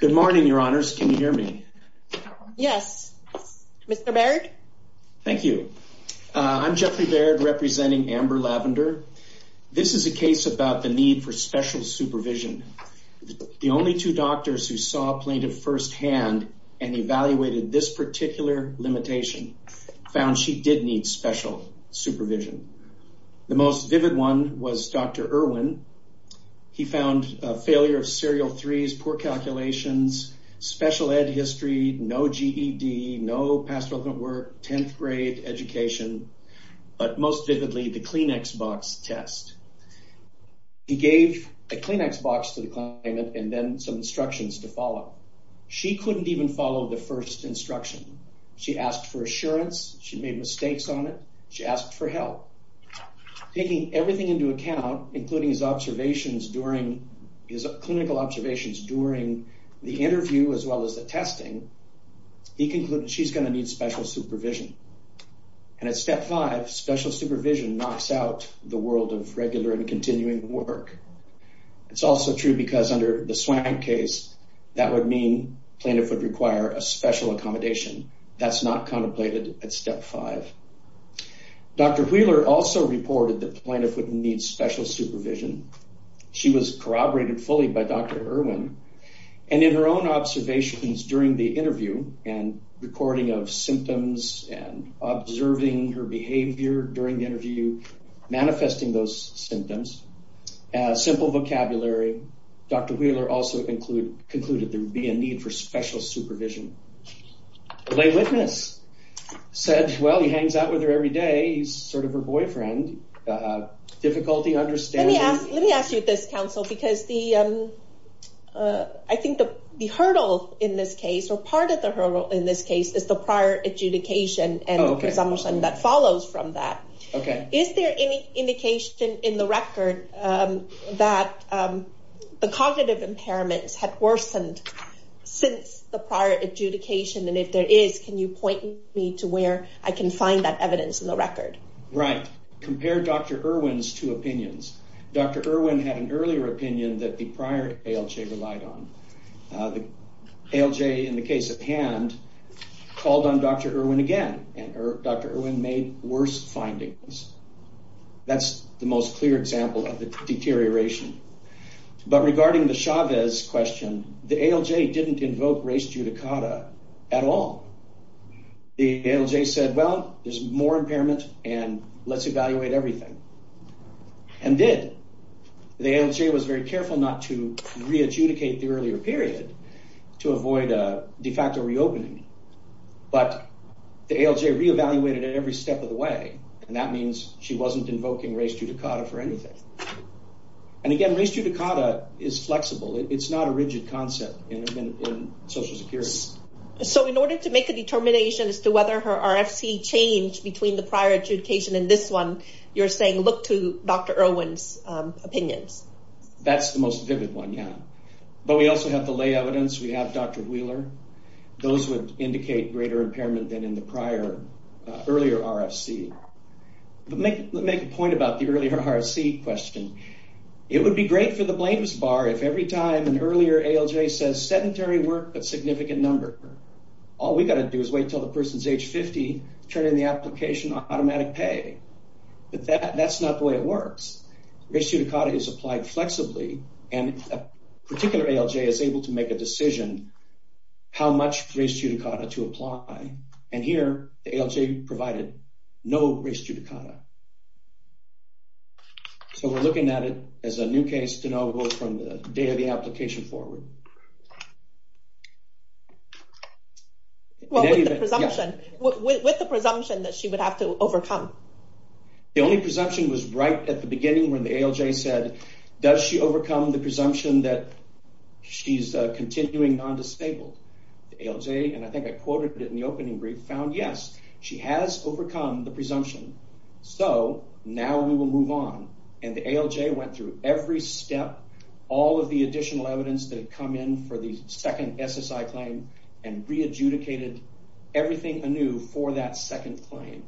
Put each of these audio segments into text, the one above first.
Good morning, your honors. Can you hear me? Yes. Mr. Baird? Thank you. I'm Jeffrey Baird, representing Amber Lavender. This is a case about the need for special supervision. The only two doctors who saw a plaintiff firsthand and evaluated this particular limitation found she did need special supervision. The most vivid one was Dr. Irwin. He found a failure of serial threes poor calculations, special ed history, no GED, no pastoral work, 10th grade education, but most vividly the Kleenex box test. He gave a Kleenex box to the client and then some instructions to follow. She couldn't even follow the first instruction. She asked for assurance. She made mistakes on it. She asked for help. Taking everything into account, including his the interview, as well as the testing, he concluded she's going to need special supervision. And at step five, special supervision knocks out the world of regular and continuing work. It's also true because under the Swank case, that would mean plaintiff would require a special accommodation. That's not contemplated at step five. Dr. Wheeler also reported that plaintiff would need special supervision. She was corroborated fully by Dr. Irwin and in her own observations during the interview and recording of symptoms and observing her behavior during the interview, manifesting those symptoms, simple vocabulary. Dr. Wheeler also concluded there would be a need for special supervision. The lay witness said, well, he hangs out with her every day. He's sort of her boyfriend. Difficulty understanding. Let me ask you this, counsel, because I think the hurdle in this case, or part of the hurdle in this case, is the prior adjudication and the presumption that follows from that. Is there any indication in the record that the cognitive impairments had worsened since the prior adjudication? And if there is, can you point me to where I can find that evidence in the record? Right. Compare Dr. Irwin's two opinions. Dr. Irwin had an earlier opinion that the prior ALJ relied on. The ALJ, in the case at hand, called on Dr. Irwin again, and Dr. Irwin made worse findings. That's the most clear example of the deterioration. But regarding the Chavez question, the ALJ didn't invoke res judicata at all. The ALJ said, well, there's more impairment, and let's evaluate everything, and did. The ALJ was very careful not to re-adjudicate the earlier period to avoid a de facto reopening, but the ALJ re-evaluated it every step of the way, and that means she wasn't invoking res judicata for anything. And again, res judicata is flexible. It's not a rigid concept in Social Security. So in order to make a determination as to whether her RFC changed between the prior adjudication and this one, you're saying look to Dr. Irwin's opinions? That's the most vivid one, yeah. But we also have the lay evidence. We have Dr. Wheeler. Those would indicate greater impairment than in the prior, earlier RFC. Let me make a point about the earlier RFC question. It would be great for the blames bar if every time an earlier ALJ says sedentary work but significant number, all we've got to do is wait until the person's age 50 to turn in the application on automatic pay. But that's not the way it works. Res judicata is applied flexibly, and a particular ALJ is able to make a decision how much res judicata to apply, and here the ALJ provided no res judicata. So we're looking at it as a new case to know from the day of the application forward. Well, with the presumption that she would have to overcome. The only presumption was right at the beginning when the ALJ said, does she overcome the presumption that she's continuing non-disabled? The ALJ, and I think I quoted it in the opening brief, found yes, she has overcome the presumption. So now we will move on, and the ALJ went through every step, all of the additional evidence that had come in for the second SSI claim and re-adjudicated everything anew for that second claim.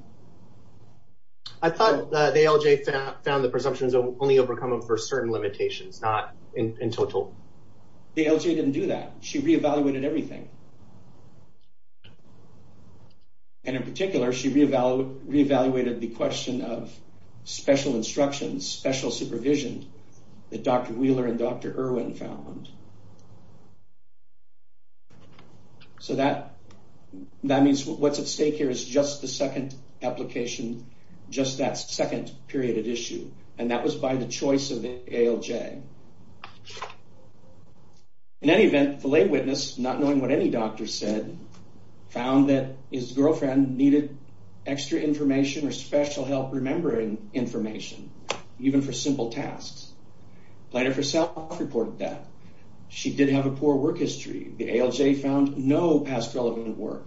I thought the ALJ found the presumptions only overcome for certain limitations, not in total. The ALJ didn't do that. She re-evaluated everything. And in particular, she re-evaluated the question of special instructions, special supervision that Dr. Wheeler and Dr. Irwin found. So that means what's at stake here is just the second application, just that second period of issue, and that was by the choice of the ALJ. In any event, the lay witness, not knowing what any doctor said, found that his girlfriend needed extra information or special help remembering information, even for simple tasks. Platter herself reported that. She did have a poor work history. The ALJ found no past relevant work.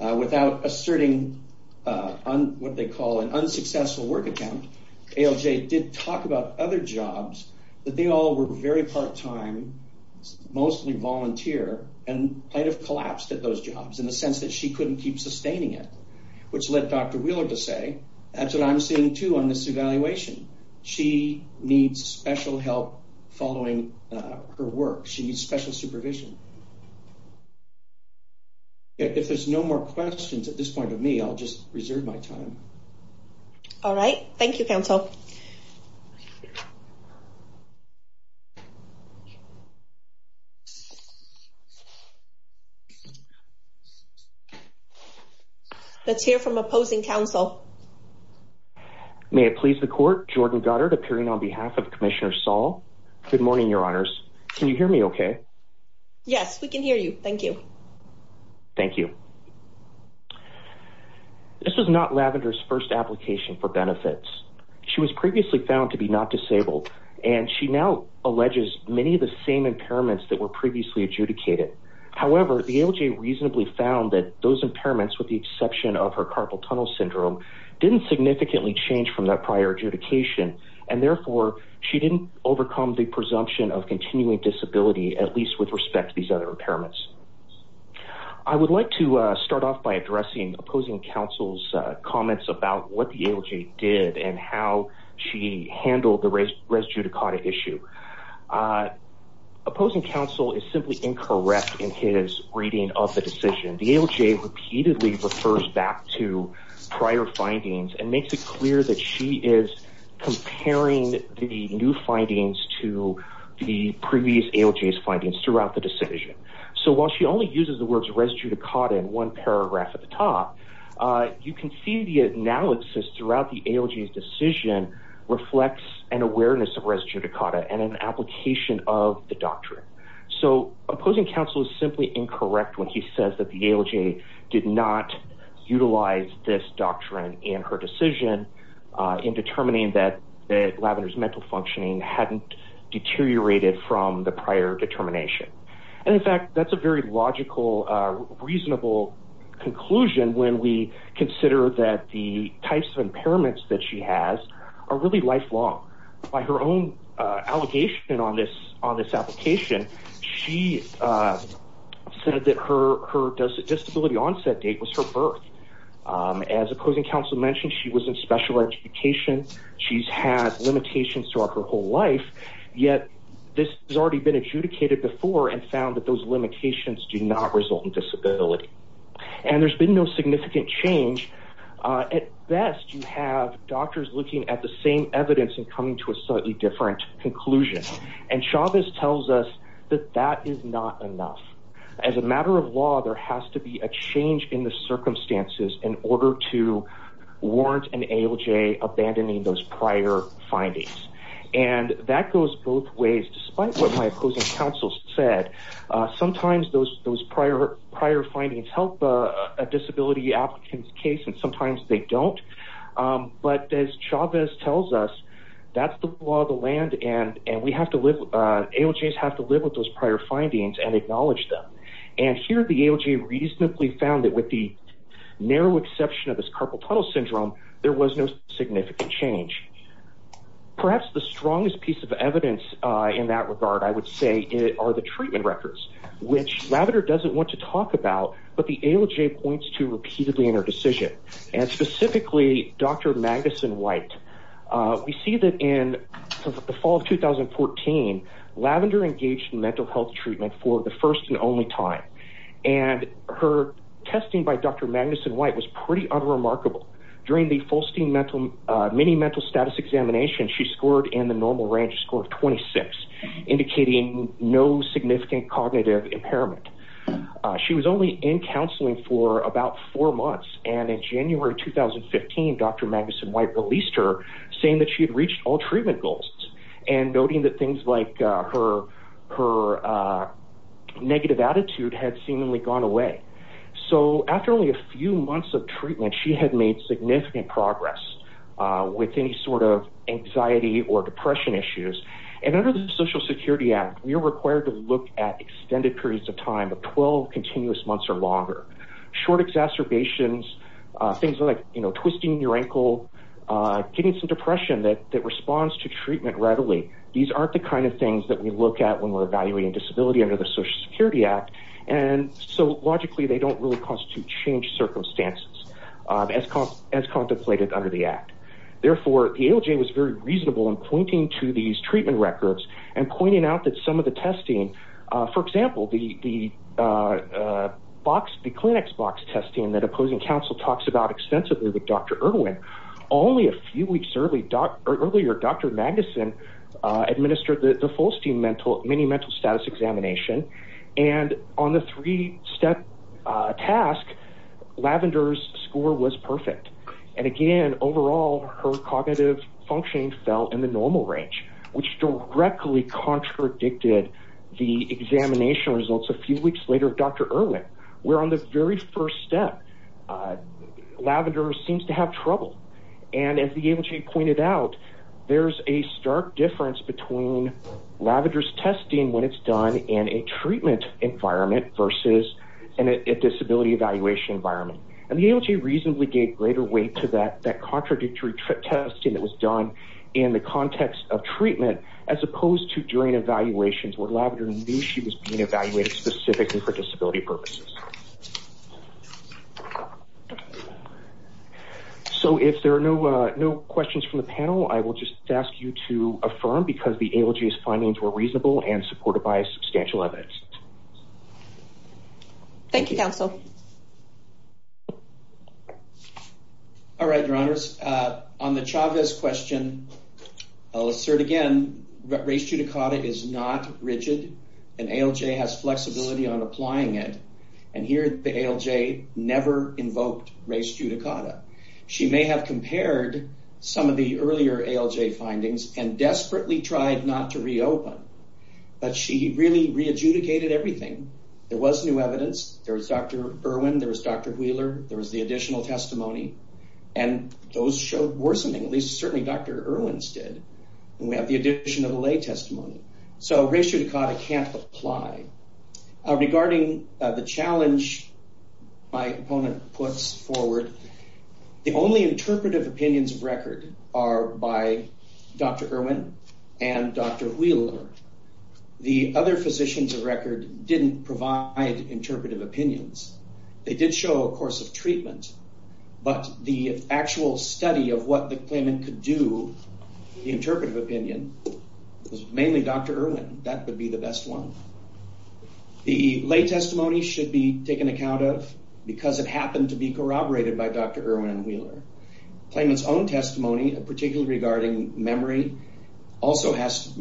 Without asserting what they call an unsuccessful work attempt, the ALJ did talk about other jobs that they all were very part-time, mostly volunteer, and might have collapsed at those jobs in the sense that she couldn't keep sustaining it, which led Dr. Wheeler to say, that's what I'm seeing too on this evaluation. She needs special help following her work. She needs special supervision. If there's no more questions at this point of me, I'll just reserve my time. All right. Thank you, counsel. Let's hear from opposing counsel. May it please the court, Jordan Goddard, appearing on behalf of Commissioner Saul. Good morning, your honors. Can you hear me okay? Yes, we can hear you. Thank you. Thank you. This was not Lavender's first application for benefits. She was previously found to be not disabled, and she now alleges many of the same impairments that were previously adjudicated. However, the ALJ reasonably found that those impairments, with the exception of her carpal tunnel syndrome, didn't significantly change from that prior adjudication, and therefore, she didn't overcome the presumption of continuing disability, at least with respect to these other impairments. I would like to start off by addressing opposing counsel's comments about what the ALJ did and how she handled the res judicata issue. Opposing counsel is simply incorrect in his reading of the decision. The ALJ repeatedly refers back to prior findings and makes it clear that she is comparing the new findings to the previous ALJ's findings throughout the decision. While she only uses the words res judicata in one paragraph at the top, you can see the analysis throughout the ALJ's decision reflects an awareness of res judicata and an application of the doctrine. Opposing counsel is simply incorrect when he says that the ALJ did not utilize this doctrine in her decision in determining that Lavender's mental functioning hadn't deteriorated from the prior determination. In fact, that's a very logical, reasonable conclusion when we consider that the types of impairments that she has are really lifelong. By her own allegation on this application, she said that her disability onset date was her birth. As opposing counsel mentioned, she was in special education. She's had limitations throughout her whole life, yet this has already been adjudicated before and found that those limitations do not result in disability. There's been no significant change. At best, you have doctors looking at the same evidence and coming to a slightly different conclusion. Chavez tells us that that is not to warrant an ALJ abandoning those prior findings. That goes both ways. Despite what my opposing counsel said, sometimes those prior findings help a disability applicant's case and sometimes they don't. As Chavez tells us, that's the law of the land. ALJs have to live with those prior findings and acknowledge them. Here, the ALJ reasonably found that with the narrow exception of this carpal tunnel syndrome, there was no significant change. Perhaps the strongest piece of evidence in that regard, I would say, are the treatment records, which Lavender doesn't want to talk about, but the ALJ points to repeatedly in her decision. Specifically, Dr. Magnuson-White, we see that in the fall of 2014, Lavender engaged in mental health treatment for the first and only time. Her testing by Dr. Magnuson-White was pretty unremarkable. During the Fulstein mini mental status examination, she scored in the normal range a score of 26, indicating no significant cognitive impairment. She was only in counseling for about four months. In January 2015, Dr. Magnuson-White said that she had reached all treatment goals and noting that things like her negative attitude had seemingly gone away. After only a few months of treatment, she had made significant progress with any sort of anxiety or depression issues. Under the Social Security Act, you're required to look at extended periods of time of 12 continuous months or longer. Short exacerbations, things like twisting your ankle, getting some depression that responds to treatment readily, these aren't the kind of things that we look at when we're evaluating disability under the Social Security Act. Logically, they don't really constitute change circumstances as contemplated under the Act. Therefore, the ALJ was very reasonable in pointing to these treatment records and pointing out that some of the testing, for example, the clinics box testing that opposing counsel talks about extensively with Dr. Irwin, only a few weeks earlier, Dr. Magnuson administered the Fulstein mini mental status examination. On the three-step task, Lavender's score was perfect. Again, overall, her cognitive functioning fell in the normal range, which directly contradicted the examination results a few weeks later of Dr. Irwin, where on the very first step, Lavender seems to have trouble. As the ALJ pointed out, there's a stark difference between Lavender's testing when it's done in a treatment environment versus a disability evaluation environment. The ALJ reasonably gave greater weight to that contradictory testing that was done in the context of treatment, as opposed to during evaluations where Lavender knew she was being evaluated specifically for disability purposes. If there are no questions from the panel, I will just ask you to affirm because the ALJ's findings were reasonable and supported by substantial evidence. Thank you, counsel. All right, your honors. On the Chavez question, I'll assert again, race judicata is not rigid, and ALJ has flexibility on applying it. Here, the ALJ never invoked race judicata. She may have compared some of the earlier ALJ findings and desperately tried not to reopen, but she really re-adjudicated everything. There was new evidence. There was Dr. Irwin, there was Dr. Wheeler, there was the additional testimony, and those showed worsening. At least, certainly Dr. Irwin's did, and we have the addition of a lay testimony. Race judicata can't apply. Regarding the challenge my opponent puts forward, the only interpretive opinions of record are by Dr. Irwin and Dr. Wheeler. The other physicians of record didn't provide interpretive opinions. They did show a course of treatment, but the actual study of what the claimant could do, the interpretive opinion, was mainly Dr. Irwin. That would be the best one. The lay testimony should be taken account of because it happened to be corroborated by Dr. Irwin and Wheeler. Claimant's own testimony, particularly regarding memory, also has,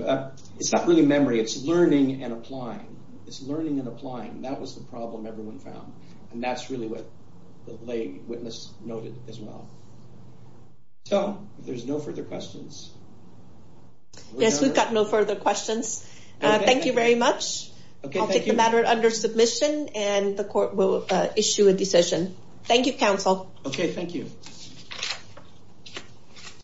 it's not really memory, it's learning and applying. It's learning and applying. That was the problem everyone found. That's really what the lay witness noted as well. If there's no further questions... Yes, we've got no further questions. Thank you very much. I'll take the matter under submission and the court will issue a decision. Thank you, counsel. Okay, thank you.